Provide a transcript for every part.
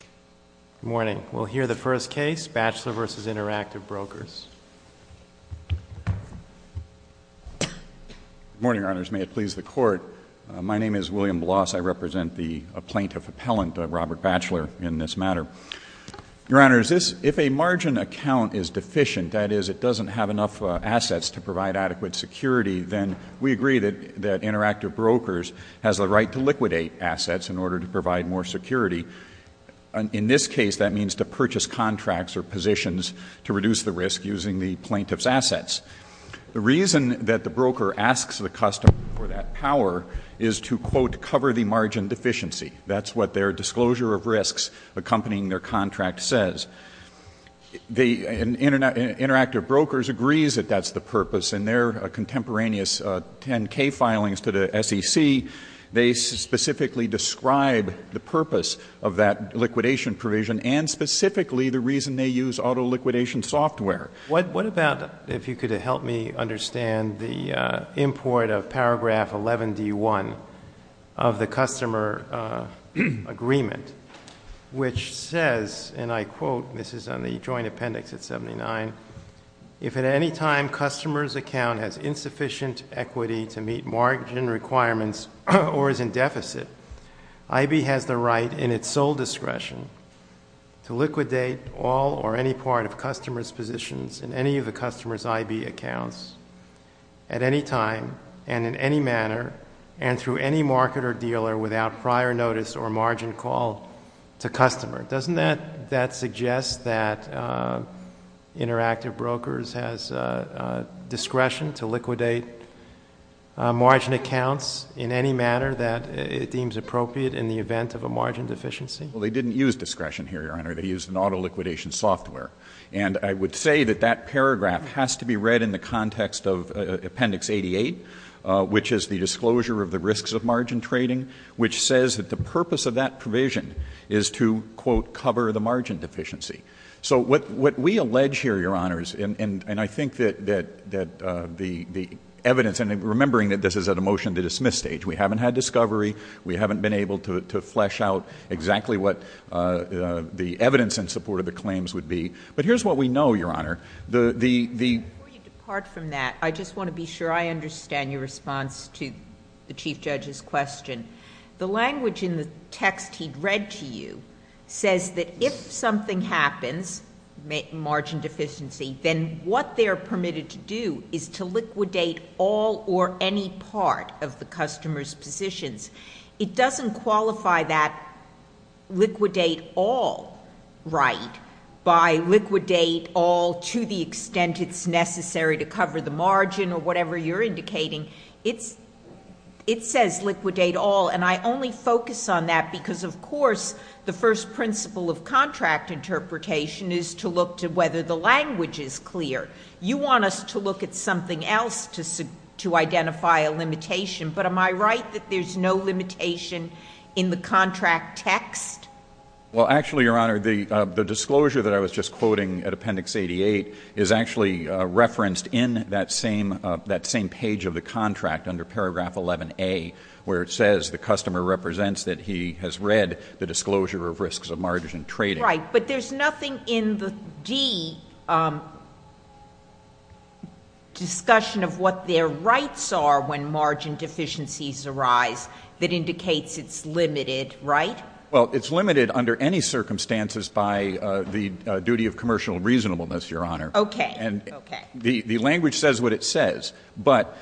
Good morning. We'll hear the first case, Batchelor v. Interactive Brokers. Good morning, Your Honors. May it please the Court, my name is William Bloss. I represent the plaintiff appellant, Robert Batchelor, in this matter. Your Honors, if a margin account is deficient, that is, it doesn't have enough assets to provide adequate security, then we agree that Interactive Brokers has the right to liquidate assets in order to provide more security. In this case, that means to purchase contracts or positions to reduce the risk using the plaintiff's assets. The reason that the broker asks the customer for that power is to, quote, cover the margin deficiency. That's what their disclosure of risks accompanying their contract says. Interactive Brokers agrees that that's the purpose in their contemporaneous 10-K filings to the SEC. They specifically describe the purpose of that liquidation provision and specifically the reason they use auto-liquidation software. What about, if you could help me understand the import of paragraph 11-D1 of the customer agreement, which says, and I quote, this is on the joint appendix at 79, if at any time customer's account has insufficient equity to meet margin requirements or is in deficit, I.B. has the right in its sole discretion to liquidate all or any part of customer's positions in any of the customer's I.B. accounts at any time and in any manner and through any market or dealer without prior notice or margin call to customer. Doesn't that suggest that Interactive Brokers has discretion to liquidate margin accounts in any manner that it deems appropriate in the event of a margin deficiency? Well, they didn't use discretion here, Your Honor. They used an auto-liquidation software. And I would say that that paragraph has to be read in the context of Appendix 88, which is the disclosure of the risks of margin trading, which says that the purpose of that provision is to, quote, cover the margin deficiency. So what we allege here, Your Honors, and I think that the evidence, and remembering that this is at a motion-to-dismiss stage. We haven't had discovery. We haven't been able to flesh out exactly what the evidence in support of the claims would be. But here's what we know, Your Honor. Before you depart from that, I just want to be sure I understand your response to the Chief Judge's question. The language in the text he'd read to you says that if something happens, margin deficiency, then what they're permitted to do is to liquidate all or any part of the customer's positions. It doesn't qualify that liquidate all right by liquidate all to the extent it's necessary to cover the margin or whatever you're indicating. It says liquidate all. And I only focus on that because, of course, the first principle of contract interpretation is to look to whether the language is clear. You want us to look at something else to identify a limitation. But am I right that there's no limitation in the contract text? Well, actually, Your Honor, the disclosure that I was just quoting at Appendix 88 is actually referenced in that same page of the contract under Paragraph 11A, where it says the customer represents that he has read the disclosure of risks of margin trading. Right, but there's nothing in the D discussion of what their rights are when margin deficiencies arise that indicates it's limited, right? Well, it's limited under any circumstances by the duty of commercial reasonableness, Your Honor. Okay. And the language says what it says. But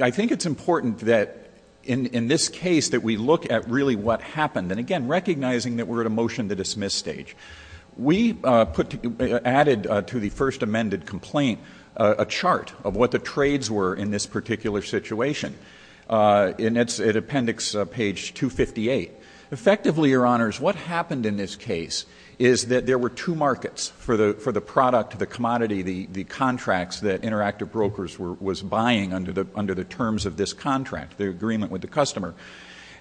I think it's important that in this case that we look at really what happened. And, again, recognizing that we're at a motion to dismiss stage. We added to the first amended complaint a chart of what the trades were in this particular situation. And that's at Appendix page 258. Effectively, Your Honors, what happened in this case is that there were two markets for the product, the commodity, the contracts that Interactive Brokers was buying under the terms of this contract, the agreement with the customer.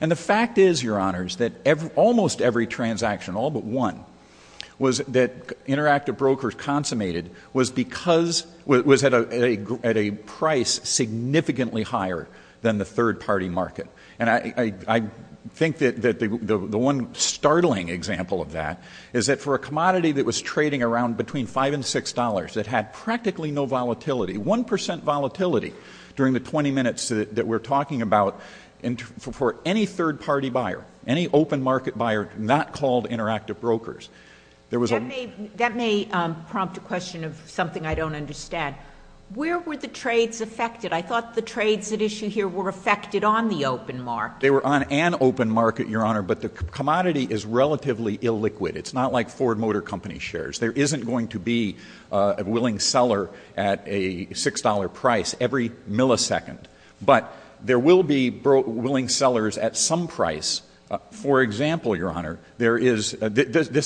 And the fact is, Your Honors, that almost every transaction, all but one, was that Interactive Brokers consummated was because it was at a price significantly higher than the third-party market. And I think that the one startling example of that is that for a commodity that was trading around between $5 and $6, it had practically no volatility, 1% volatility, during the 20 minutes that we're talking about, for any third-party buyer, any open market buyer, not called Interactive Brokers. That may prompt a question of something I don't understand. Where were the trades affected? I thought the trades at issue here were affected on the open market. They were on an open market, Your Honor, but the commodity is relatively illiquid. It's not like Ford Motor Company shares. There isn't going to be a willing seller at a $6 price every millisecond. But there will be willing sellers at some price. For example, Your Honor, this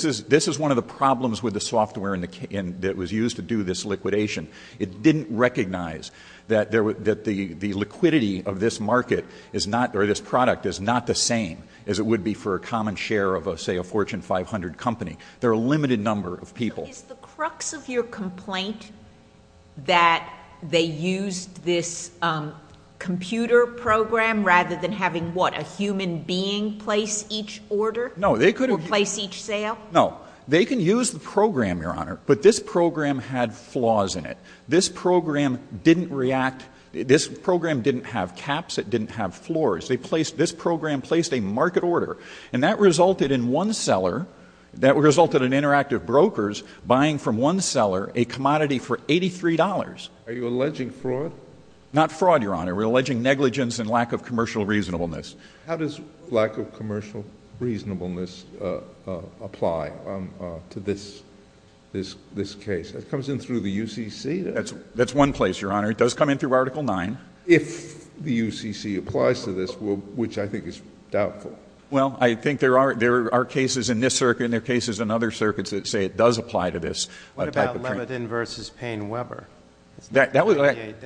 is one of the problems with the software that was used to do this liquidation. It didn't recognize that the liquidity of this market or this product is not the same as it would be for a common share of, say, a Fortune 500 company. They're a limited number of people. Is the crux of your complaint that they used this computer program rather than having, what, a human being place each order or place each sale? No, they can use the program, Your Honor, but this program had flaws in it. This program didn't react. This program didn't have caps. It didn't have floors. This program placed a market order. And that resulted in one seller, that resulted in interactive brokers buying from one seller a commodity for $83. Are you alleging fraud? Not fraud, Your Honor. We're alleging negligence and lack of commercial reasonableness. How does lack of commercial reasonableness apply to this case? Does it come in through the UCC? That's one place, Your Honor. It does come in through Article 9. If the UCC applies to this, which I think is doubtful. Well, I think there are cases in this circuit and there are cases in other circuits that say it does apply to this type of trade. What about Levitin v. Payne Weber? Doesn't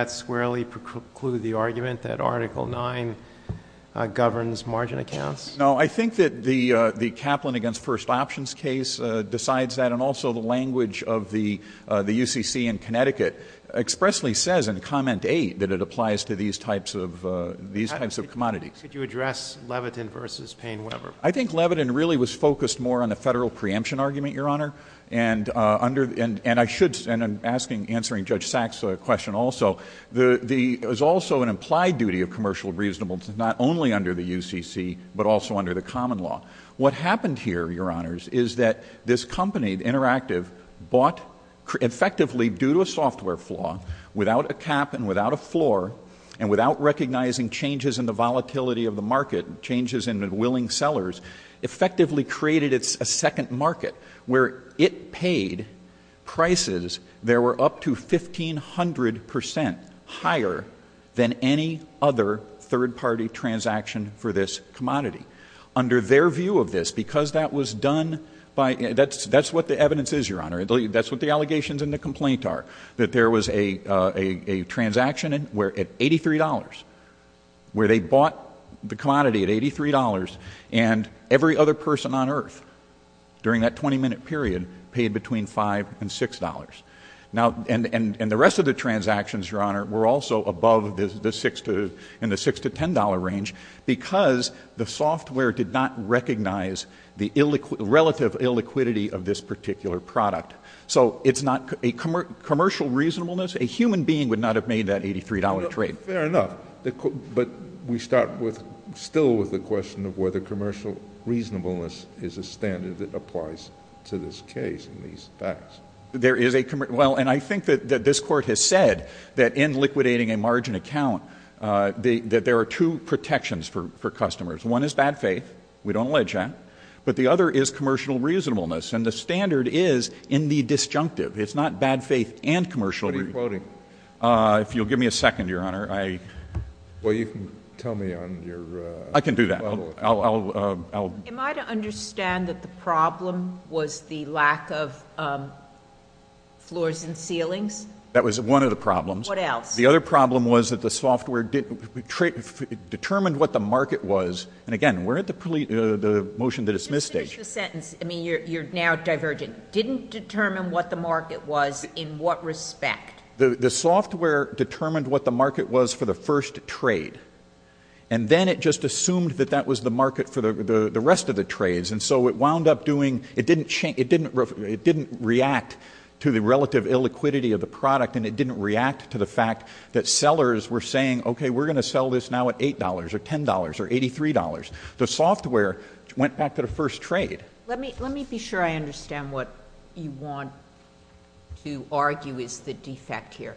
that squarely preclude the argument that Article 9 governs margin accounts? No, I think that the Kaplan v. First Options case decides that, and also the language of the UCC in Connecticut expressly says in Comment 8 that it applies to these types of commodities. Could you address Levitin v. Payne Weber? I think Levitin really was focused more on the federal preemption argument, Your Honor. And I should, in answering Judge Sachs' question also, there's also an implied duty of commercial reasonableness not only under the UCC but also under the common law. What happened here, Your Honors, is that this company, Interactive, bought effectively due to a software flaw, without a cap and without a floor, and without recognizing changes in the volatility of the market, changes in the willing sellers, effectively created a second market where it paid prices that were up to 1,500 percent higher than any other third-party transaction for this commodity. Under their view of this, because that was done by — that's what the evidence is, Your Honor. That's what the allegations and the complaint are, that there was a transaction where at $83, where they bought the commodity at $83, and every other person on earth during that 20-minute period paid between $5 and $6. And the rest of the transactions, Your Honor, were also above in the $6 to $10 range because the software did not recognize the relative illiquidity of this particular product. So it's not — commercial reasonableness, a human being would not have made that $83 trade. Fair enough. But we start still with the question of whether commercial reasonableness is a standard that applies to this case in these facts. There is a — well, and I think that this Court has said that in liquidating a margin account, that there are two protections for customers. One is bad faith. We don't allege that. But the other is commercial reasonableness. And the standard is in the disjunctive. It's not bad faith and commercial reasonableness. What are you quoting? If you'll give me a second, Your Honor, I — Well, you can tell me on your level. I can do that. I'll — Am I to understand that the problem was the lack of floors and ceilings? That was one of the problems. What else? The other problem was that the software determined what the market was. And again, we're at the motion to dismiss stage. Just finish the sentence. I mean, you're now divergent. Didn't determine what the market was in what respect? The software determined what the market was for the first trade. And then it just assumed that that was the market for the rest of the trades. And so it wound up doing — it didn't react to the relative illiquidity of the product, and it didn't react to the fact that sellers were saying, okay, we're going to sell this now at $8 or $10 or $83. The software went back to the first trade. Let me be sure I understand what you want to argue is the defect here.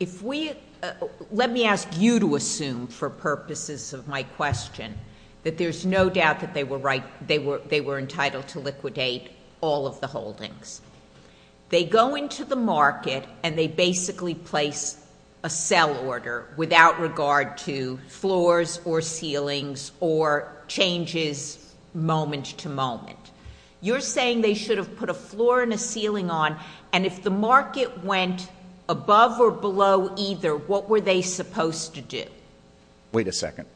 If we — let me ask you to assume, for purposes of my question, that there's no doubt that they were entitled to liquidate all of the holdings. They go into the market and they basically place a sell order without regard to floors or ceilings or changes moment to moment. You're saying they should have put a floor and a ceiling on, and if the market went above or below either, what were they supposed to do? Wait a second.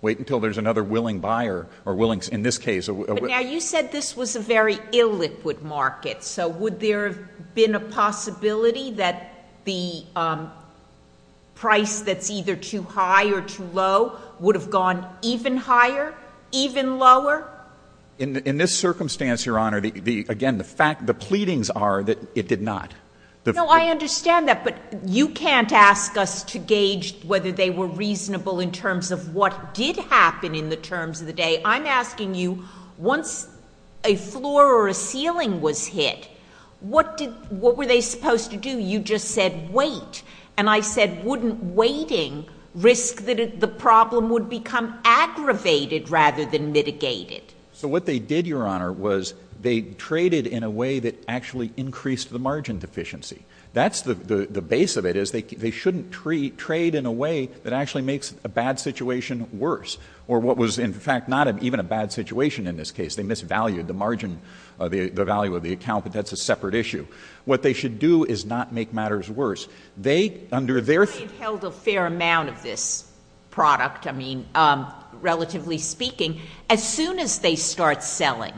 Wait until there's another willing buyer or willing — in this case — But now you said this was a very illiquid market. So would there have been a possibility that the price that's either too high or too low would have gone even higher, even lower? In this circumstance, Your Honor, again, the fact — the pleadings are that it did not. No, I understand that, but you can't ask us to gauge whether they were reasonable in terms of what did happen in the terms of the day. I'm asking you, once a floor or a ceiling was hit, what did — what were they supposed to do? You just said wait. And I said wouldn't waiting risk that the problem would become aggravated rather than mitigated? So what they did, Your Honor, was they traded in a way that actually increased the margin deficiency. That's the base of it, is they shouldn't trade in a way that actually makes a bad situation worse, or what was, in fact, not even a bad situation in this case. They misvalued the margin — the value of the account, but that's a separate issue. What they should do is not make matters worse. They, under their — They've held a fair amount of this product, I mean, relatively speaking. As soon as they start selling,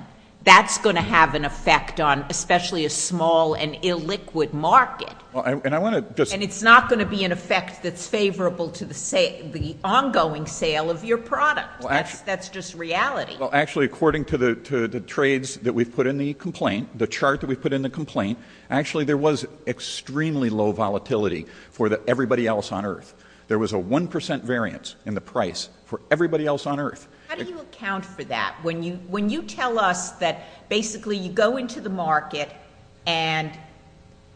that's going to have an effect on especially a small and illiquid market. And I want to just — And it's not going to be an effect that's favorable to the ongoing sale of your product. That's just reality. Well, actually, according to the trades that we've put in the complaint, the chart that we've put in the complaint, actually there was extremely low volatility for everybody else on earth. There was a 1 percent variance in the price for everybody else on earth. How do you account for that? When you tell us that basically you go into the market and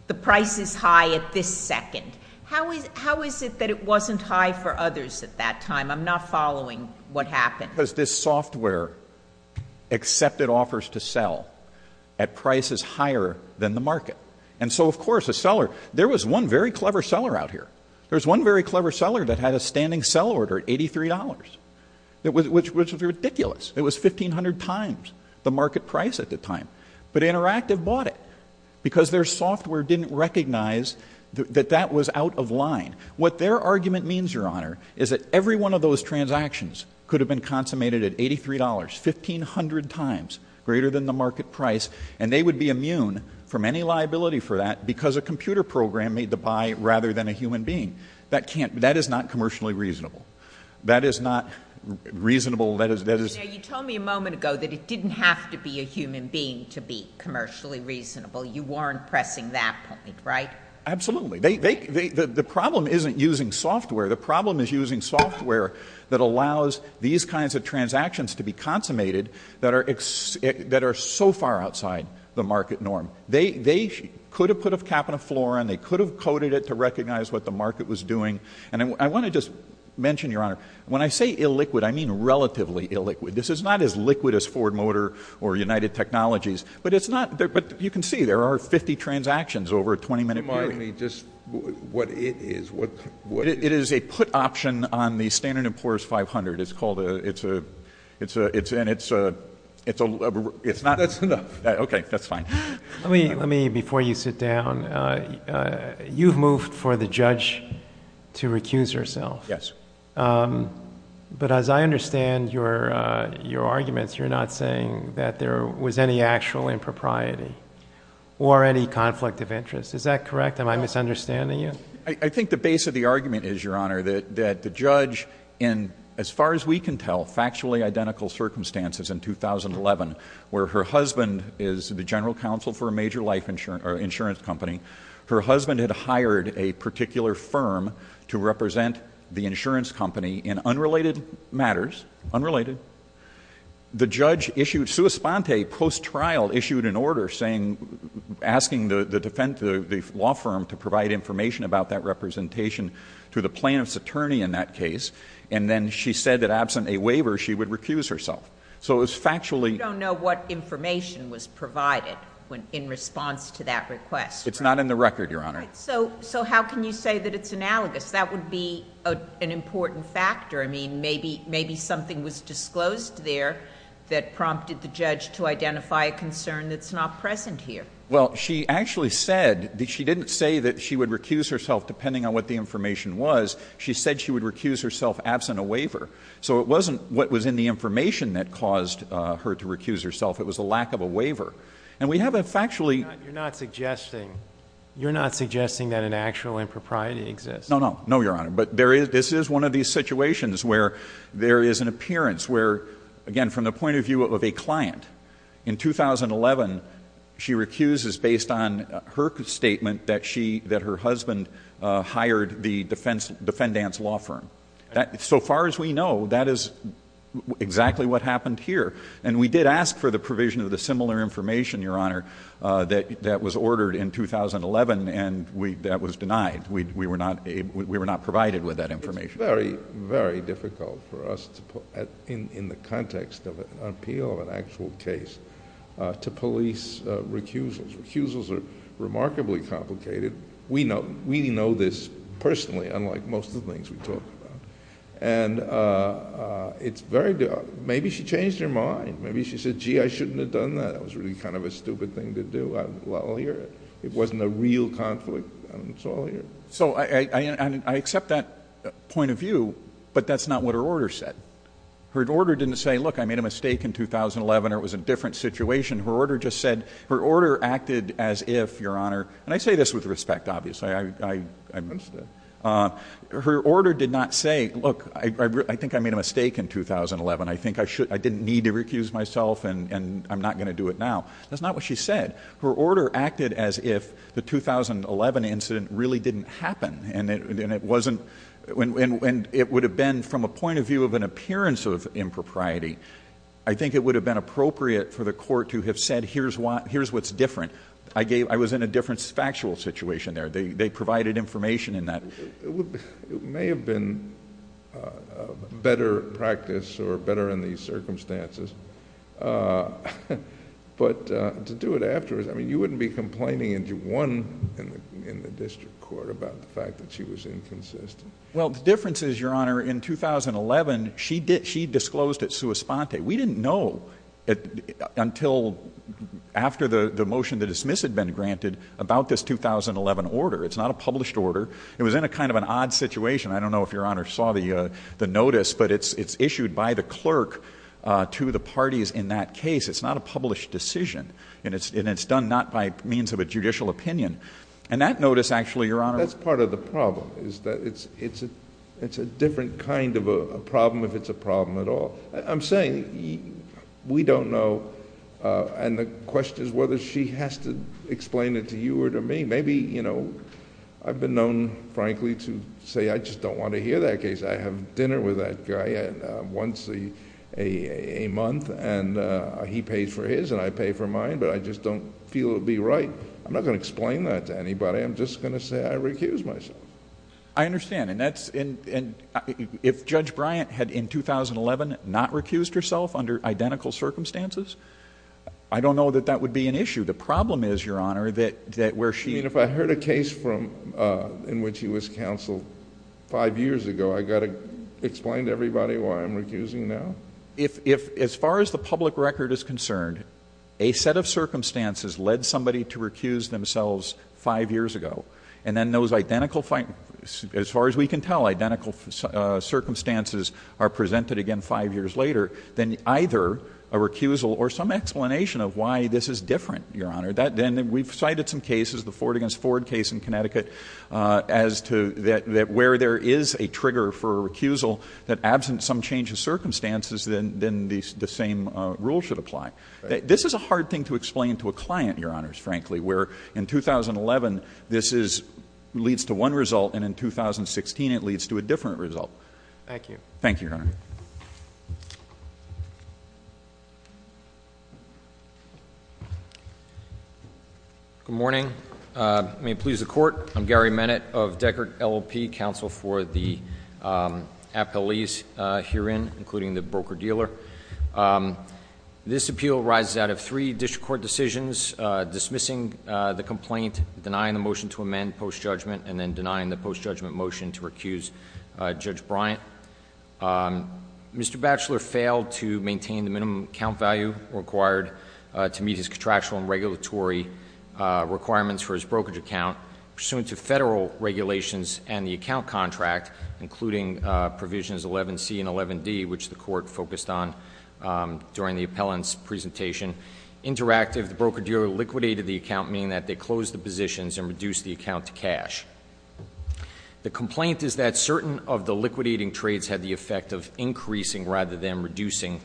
the price is high at this second, how is it that it wasn't high for others at that time? I'm not following what happened. Because this software accepted offers to sell at prices higher than the market. And so, of course, a seller — there was one very clever seller out here. There was one very clever seller that had a standing sell order at $83, which was ridiculous. It was 1,500 times the market price at the time. But Interactive bought it because their software didn't recognize that that was out of line. What their argument means, Your Honor, is that every one of those transactions could have been consummated at $83, 1,500 times greater than the market price, and they would be immune from any liability for that because a computer program made the buy rather than a human being. That is not commercially reasonable. That is not reasonable. You told me a moment ago that it didn't have to be a human being to be commercially reasonable. You weren't pressing that point, right? Absolutely. The problem isn't using software. The problem is using software that allows these kinds of transactions to be consummated that are so far outside the market norm. They could have put a cap on a floor, and they could have coded it to recognize what the market was doing. And I want to just mention, Your Honor, when I say illiquid, I mean relatively illiquid. This is not as liquid as Ford Motor or United Technologies. But it's not — but you can see there are 50 transactions over a 20-minute period. Let me just... what it is. It is a put option on the Standard & Poor's 500. It's called a... it's a... and it's a... it's not... That's enough. Okay, that's fine. Let me, before you sit down, you've moved for the judge to recuse herself. Yes. But as I understand your arguments, you're not saying that there was any actual impropriety or any conflict of interest. Is that correct? Am I misunderstanding you? I think the base of the argument is, Your Honor, that the judge in, as far as we can tell, factually identical circumstances in 2011, where her husband is the general counsel for a major life insurance company. Her husband had hired a particular firm to represent the insurance company in unrelated matters. Unrelated. The judge issued... Sua Sponte, post-trial, issued an order saying... asking the law firm to provide information about that representation to the plaintiff's attorney in that case, and then she said that absent a waiver, she would recuse herself. So it was factually... We don't know what information was provided in response to that request. It's not in the record, Your Honor. Right. So how can you say that it's analogous? That would be an important factor. I mean, maybe something was disclosed there that prompted the judge to identify a concern that's not present here. Well, she actually said that she didn't say that she would recuse herself depending on what the information was. She said she would recuse herself absent a waiver. So it wasn't what was in the information that caused her to recuse herself. It was a lack of a waiver. And we have a factually... You're not suggesting that an actual impropriety exists. No, Your Honor. But this is one of these situations where there is an appearance where, again, from the point of view of a client, in 2011, she recuses based on her statement that her husband hired the defendant's law firm. So far as we know, that is exactly what happened here. And we did ask for the provision of the similar information, Your Honor, that was ordered in 2011, and that was denied. We were not provided with that information. It's very, very difficult for us, in the context of an appeal of an actual case, to police recusals. Recusals are remarkably complicated. We know this personally, unlike most of the things we talk about. And it's very... maybe she changed her mind. Maybe she said, gee, I shouldn't have done that. That was really kind of a stupid thing to do. Well, here, it wasn't a real conflict. So I accept that point of view, but that's not what her order said. Her order didn't say, look, I made a mistake in 2011, or it was a different situation. Her order just said... her order acted as if, Your Honor... and I say this with respect, obviously. I understand. Her order did not say, look, I think I made a mistake in 2011. I think I didn't need to recuse myself, and I'm not going to do it now. That's not what she said. Her order acted as if the 2011 incident really didn't happen, and it wasn't... and it would have been, from a point of view of an appearance of impropriety, I think it would have been appropriate for the court to have said, here's what's different. I was in a different factual situation there. They provided information in that. It may have been better practice, or better in these circumstances. But to do it afterwards, I mean, you wouldn't be complaining and you won in the district court about the fact that she was inconsistent. Well, the difference is, Your Honor, in 2011, she disclosed at sua sponte. We didn't know until after the motion to dismiss had been granted about this 2011 order. It's not a published order. It was in a kind of an odd situation. I don't know if Your Honor saw the notice, but it's issued by the clerk to the parties in that case. It's not a published decision, and it's done not by means of a judicial opinion. And that notice actually, Your Honor... That's part of the problem, is that it's a different kind of a problem if it's a problem at all. I'm saying we don't know, and the question is whether she has to explain it to you or to me. Maybe, you know, I've been known, frankly, to say I just don't want to hear that case. I have dinner with that guy once a month, and he pays for his and I pay for mine, but I just don't feel it would be right. I'm not going to explain that to anybody. I'm just going to say I recuse myself. I understand, and that's... If Judge Bryant had in 2011 not recused herself under identical circumstances, I don't know that that would be an issue. The problem is, Your Honor, that where she... You mean if I heard a case in which he was counseled five years ago, I've got to explain to everybody why I'm recusing now? If, as far as the public record is concerned, a set of circumstances led somebody to recuse themselves five years ago, and then those identical, as far as we can tell, identical circumstances are presented again five years later, then either a recusal or some explanation of why this is different, Your Honor. We've cited some cases, the Ford v. Ford case in Connecticut, as to where there is a trigger for a recusal that absent some change of circumstances, then the same rule should apply. This is a hard thing to explain to a client, Your Honors, frankly, where in 2011 this leads to one result and in 2016 it leads to a different result. Thank you. Thank you, Your Honor. Thank you. Good morning. May it please the Court, I'm Gary Bennett of Deckert LLP, counsel for the appellees herein, including the broker-dealer. This appeal arises out of three district court decisions, dismissing the complaint, denying the motion to amend post-judgment, and then denying the post-judgment motion to recuse Judge Bryant. Mr. Batchelor failed to maintain the minimum account value required to meet his contractual and regulatory requirements for his brokerage account. Pursuant to Federal regulations and the account contract, including provisions 11C and 11D, which the Court focused on during the appellant's presentation, interactive the broker-dealer liquidated the account, meaning that they closed the positions and reduced the account to cash. The complaint is that certain of the liquidating trades had the effect of increasing rather than reducing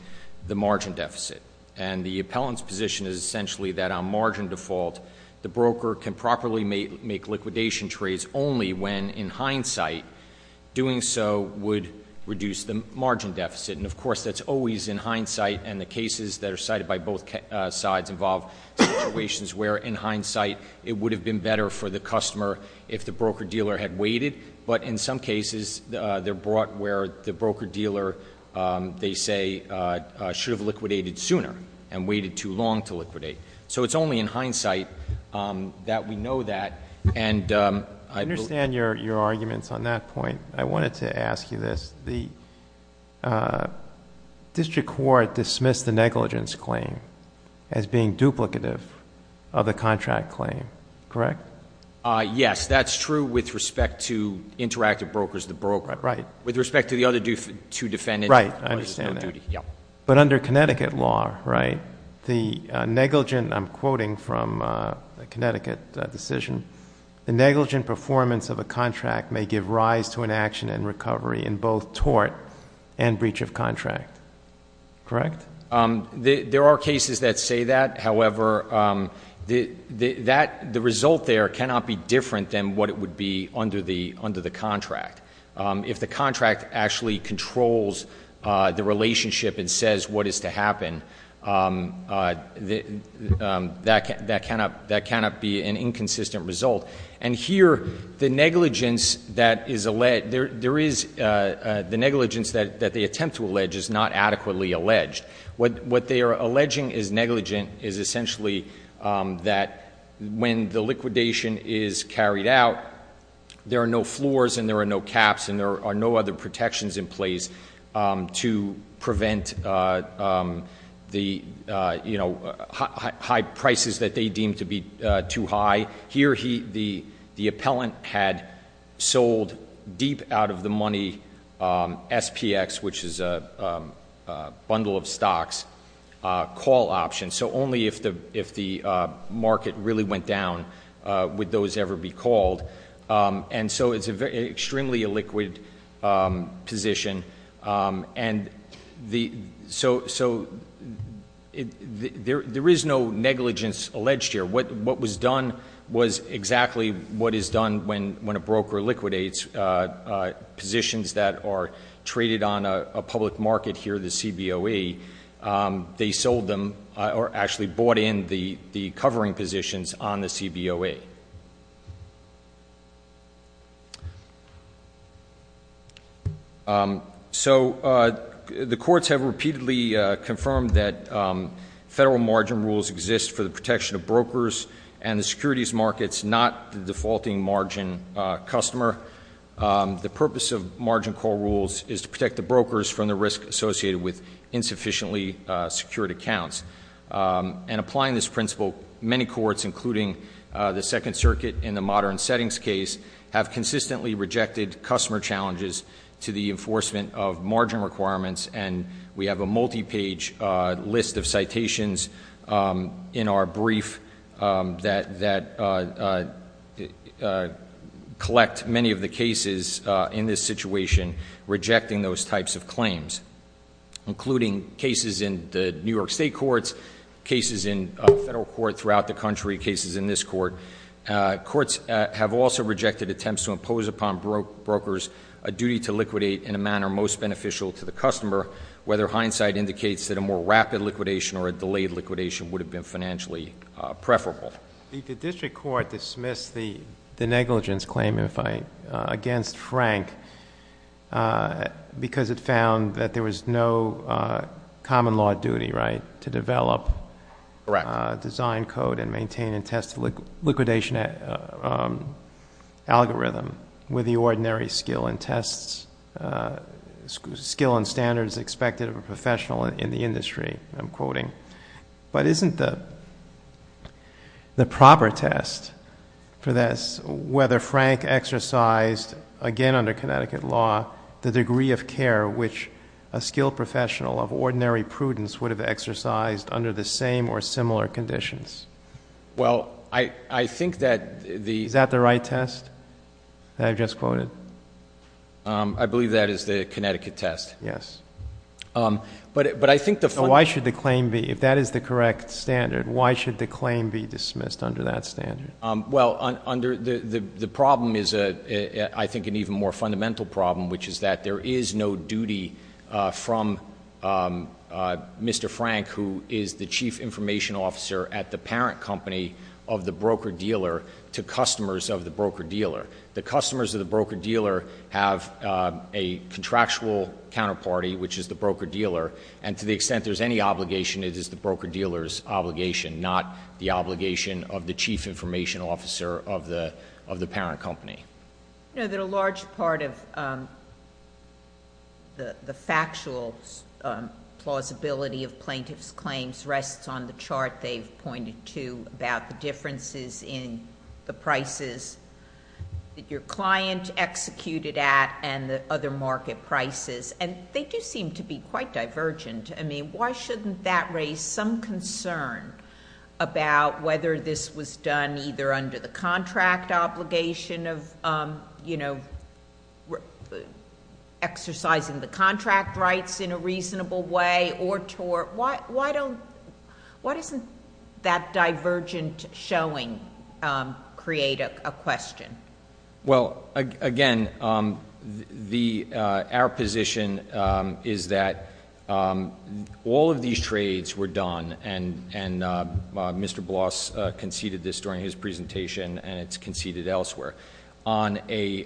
the margin deficit. And the appellant's position is essentially that on margin default, the broker can properly make liquidation trades only when, in hindsight, doing so would reduce the margin deficit. And, of course, that's always in hindsight, and the cases that are cited by both sides involve situations where, in hindsight, it would have been better for the customer if the broker-dealer had waited, but in some cases they're brought where the broker-dealer, they say, should have liquidated sooner and waited too long to liquidate. So it's only in hindsight that we know that. I understand your arguments on that point. I wanted to ask you this. The district court dismissed the negligence claim as being duplicative of the contract claim, correct? Yes, that's true with respect to interactive brokers, the broker. Right. With respect to the other two defendants. Right, I understand that. Yeah. But under Connecticut law, right, the negligent, I'm quoting from a Connecticut decision, the negligent performance of a contract may give rise to an action in recovery in both tort and breach of contract, correct? There are cases that say that. However, the result there cannot be different than what it would be under the contract. If the contract actually controls the relationship and says what is to happen, that cannot be an inconsistent result. And here the negligence that is alleged, the negligence that they attempt to allege is not adequately alleged. What they are alleging is negligent is essentially that when the liquidation is carried out, there are no floors and there are no caps and there are no other protections in place to prevent the high prices that they deem to be too high. Here the appellant had sold deep out of the money SPX, which is a bundle of stocks, call options. So only if the market really went down would those ever be called. And so it's extremely a liquid position. And so there is no negligence alleged here. What was done was exactly what is done when a broker liquidates positions that are traded on a public market here, the CBOE. They sold them or actually bought in the covering positions on the CBOE. So the courts have repeatedly confirmed that federal margin rules exist for the protection of brokers and the securities markets, not the defaulting margin customer. The purpose of margin call rules is to protect the brokers from the risk associated with insufficiently secured accounts. And applying this principle, many courts, including the Second Circuit in the modern settings case, have consistently rejected customer challenges to the enforcement of margin requirements. And we have a multi-page list of citations in our brief that collect many of the cases in this situation rejecting those types of claims, including cases in the New York State courts, cases in federal court throughout the country, cases in this court. Courts have also rejected attempts to impose upon brokers a duty to liquidate in a manner most beneficial to the customer, whether hindsight indicates that a more rapid liquidation or a delayed liquidation would have been financially preferable. The district court dismissed the negligence claim against Frank because it found that there was no common law duty, right, to develop- Correct. and code and maintain and test liquidation algorithm with the ordinary skill and tests, skill and standards expected of a professional in the industry, I'm quoting. But isn't the proper test for this whether Frank exercised, again under Connecticut law, the degree of care which a skilled professional of ordinary prudence would have exercised under the same or similar conditions? Well, I think that the- Is that the right test that I just quoted? I believe that is the Connecticut test. Yes. But I think the- So why should the claim be, if that is the correct standard, why should the claim be dismissed under that standard? Well, under the problem is, I think, an even more fundamental problem, which is that there is no duty from Mr. Frank, who is the chief information officer at the parent company of the broker-dealer, to customers of the broker-dealer. The customers of the broker-dealer have a contractual counterparty, which is the broker-dealer, and to the extent there is any obligation, it is the broker-dealer's obligation, not the obligation of the chief information officer of the parent company. You know that a large part of the factual plausibility of plaintiff's claims rests on the chart they've pointed to about the differences in the prices that your client executed at and the other market prices, and they do seem to be quite divergent. I mean, why shouldn't that raise some concern about whether this was done either under the contract obligation of, you know, exercising the contract rights in a reasonable way or tort? Why don't-why doesn't that divergent showing create a question? Well, again, our position is that all of these trades were done, and Mr. Bloss conceded this during his presentation and it's conceded elsewhere, on a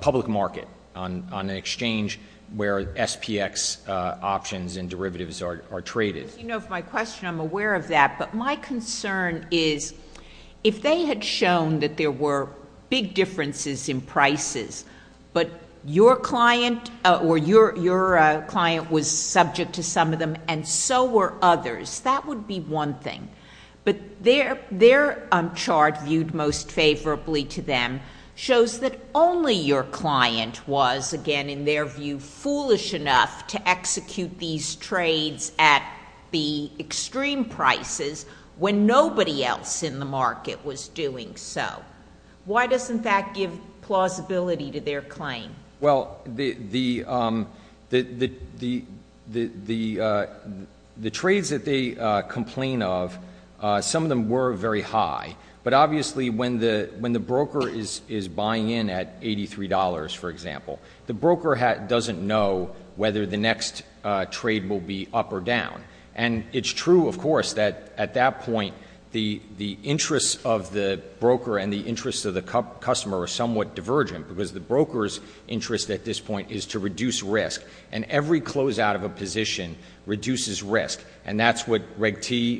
public market, on an exchange where SPX options and derivatives are traded. As you know from my question, I'm aware of that. But my concern is if they had shown that there were big differences in prices, but your client or your client was subject to some of them and so were others, that would be one thing. But their chart viewed most favorably to them shows that only your client was, again, in their view, foolish enough to execute these trades at the extreme prices when nobody else in the market was doing so. Why doesn't that give plausibility to their claim? Well, the trades that they complain of, some of them were very high, but obviously when the broker is buying in at $83, for example, the broker doesn't know whether the next trade will be up or down. And it's true, of course, that at that point, the interests of the broker and the interests of the customer are somewhat divergent because the broker's interest at this point is to reduce risk, and every closeout of a position reduces risk. And that's what Reg T,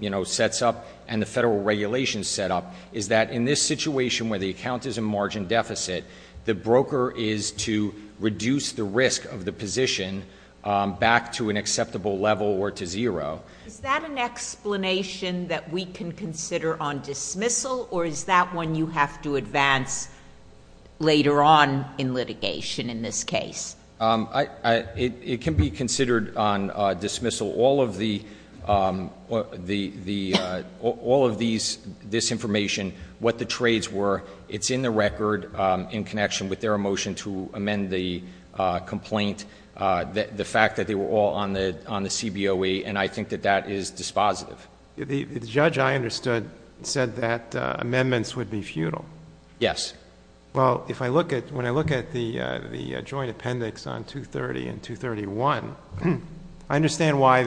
you know, sets up and the federal regulations set up, is that in this situation where the account is in margin deficit, the broker is to reduce the risk of the position back to an acceptable level or to zero. Is that an explanation that we can consider on dismissal, or is that one you have to advance later on in litigation in this case? It can be considered on dismissal. All of this information, what the trades were, it's in the record in connection with their motion to amend the complaint, the fact that they were all on the CBOE, and I think that that is dispositive. The judge I understood said that amendments would be futile. Yes. Well, when I look at the joint appendix on 230 and 231, I understand why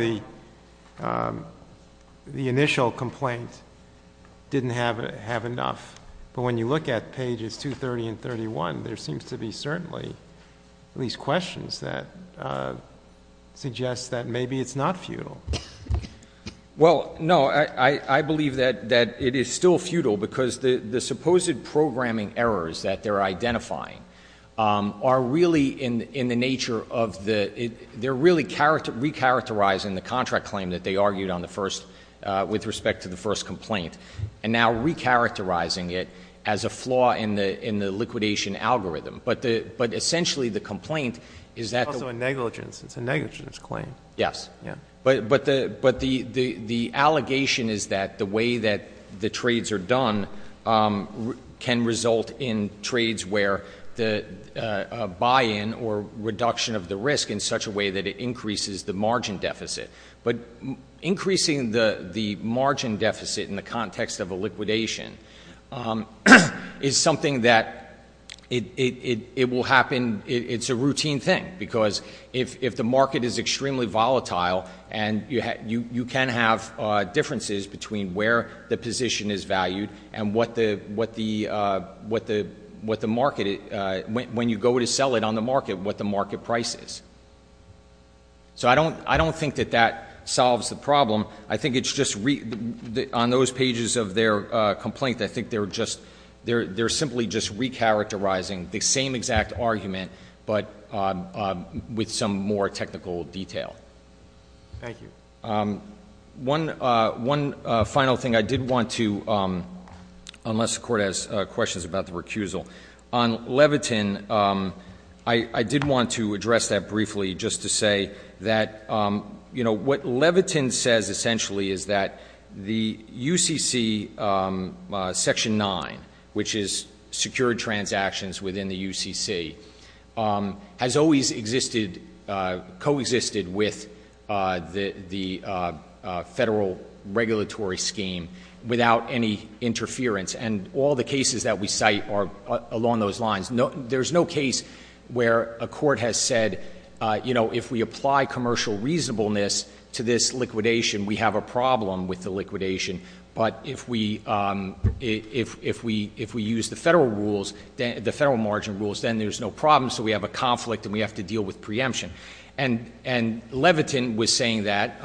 the initial complaint didn't have enough, but when you look at pages 230 and 231, there seems to be certainly at least questions that suggest that maybe it's not futile. Well, no, I believe that it is still futile because the supposed programming errors that they're identifying are really in the nature of the, they're really recharacterizing the contract claim that they argued on the first, with respect to the first complaint, and now recharacterizing it as a flaw in the liquidation algorithm. But essentially the complaint is that. It's also a negligence. It's a negligence claim. Yes. But the allegation is that the way that the trades are done can result in trades where a buy-in or reduction of the risk in such a way that it increases the margin deficit. But increasing the margin deficit in the context of a liquidation is something that it will happen, it's a routine thing because if the market is extremely volatile and you can have differences between where the position is valued and what the market, when you go to sell it on the market, what the market price is. So I don't think that that solves the problem. I think it's just, on those pages of their complaint, I think they're just, they're simply just recharacterizing the same exact argument, but with some more technical detail. Thank you. One final thing I did want to, unless the Court has questions about the recusal. On Levitin, I did want to address that briefly just to say that, you know, what Levitin says essentially is that the UCC Section 9, which is secured transactions within the UCC, has always existed, coexisted with the federal regulatory scheme without any interference. And all the cases that we cite are along those lines. There's no case where a court has said, you know, if we apply commercial reasonableness to this liquidation, we have a problem with the liquidation. But if we use the federal rules, the federal margin rules, then there's no problem, so we have a conflict and we have to deal with preemption. And Levitin was saying that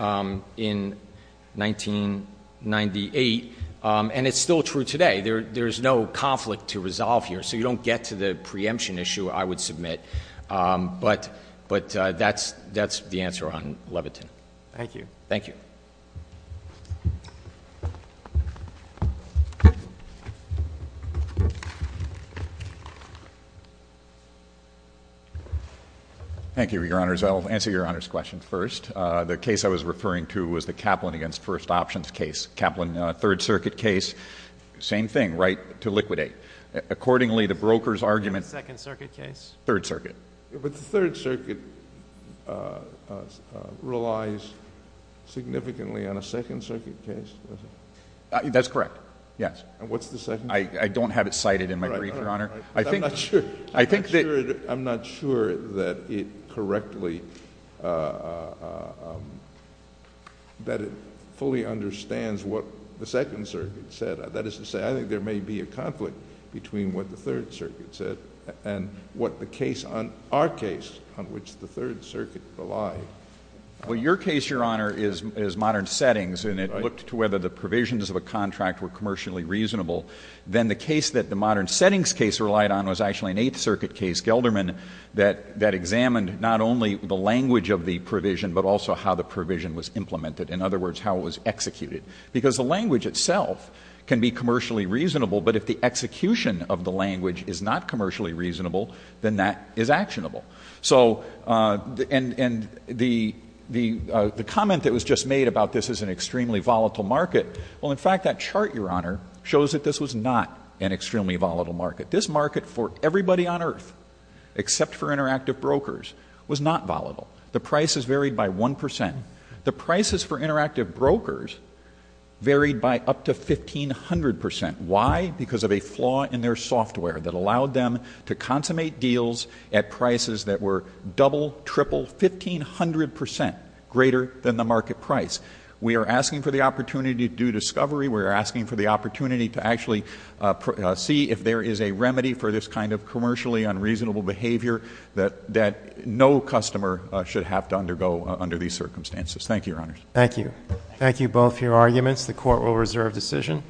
in 1998, and it's still true today. There's no conflict to resolve here, so you don't get to the preemption issue, I would submit. But that's the answer on Levitin. Thank you. Thank you. Thank you, Your Honors. I'll answer Your Honor's question first. The case I was referring to was the Kaplan v. First Options case, Kaplan Third Circuit case. Same thing, right, to liquidate. Accordingly, the broker's argument. The Second Circuit case? Third Circuit. But the Third Circuit relies significantly on a Second Circuit case, does it? That's correct, yes. And what's the Second Circuit? I don't have it cited in my brief, Your Honor. All right, all right, all right. But I'm not sure. I'm not sure that it correctly, that it fully understands what the Second Circuit said. That is to say, I think there may be a conflict between what the Third Circuit said and what the case, our case, on which the Third Circuit relied. Well, your case, Your Honor, is modern settings, and it looked to whether the provisions of a contract were commercially reasonable. Then the case that the modern settings case relied on was actually an Eighth Circuit case, Gelderman, that examined not only the language of the provision, but also how the provision was implemented. In other words, how it was executed. Because the language itself can be commercially reasonable, but if the execution of the language is not commercially reasonable, then that is actionable. So, and the comment that was just made about this is an extremely volatile market. Well, in fact, that chart, Your Honor, shows that this was not an extremely volatile market. This market for everybody on earth, except for interactive brokers, was not volatile. The prices varied by 1 percent. The prices for interactive brokers varied by up to 1,500 percent. Why? Because of a flaw in their software that allowed them to consummate deals at prices that were double, triple, 1,500 percent greater than the market price. We are asking for the opportunity to do discovery. We are asking for the opportunity to actually see if there is a remedy for this kind of commercially unreasonable behavior that no customer should have to undergo under these circumstances. Thank you, Your Honors. Thank you. Thank you both for your arguments. The Court will reserve decision.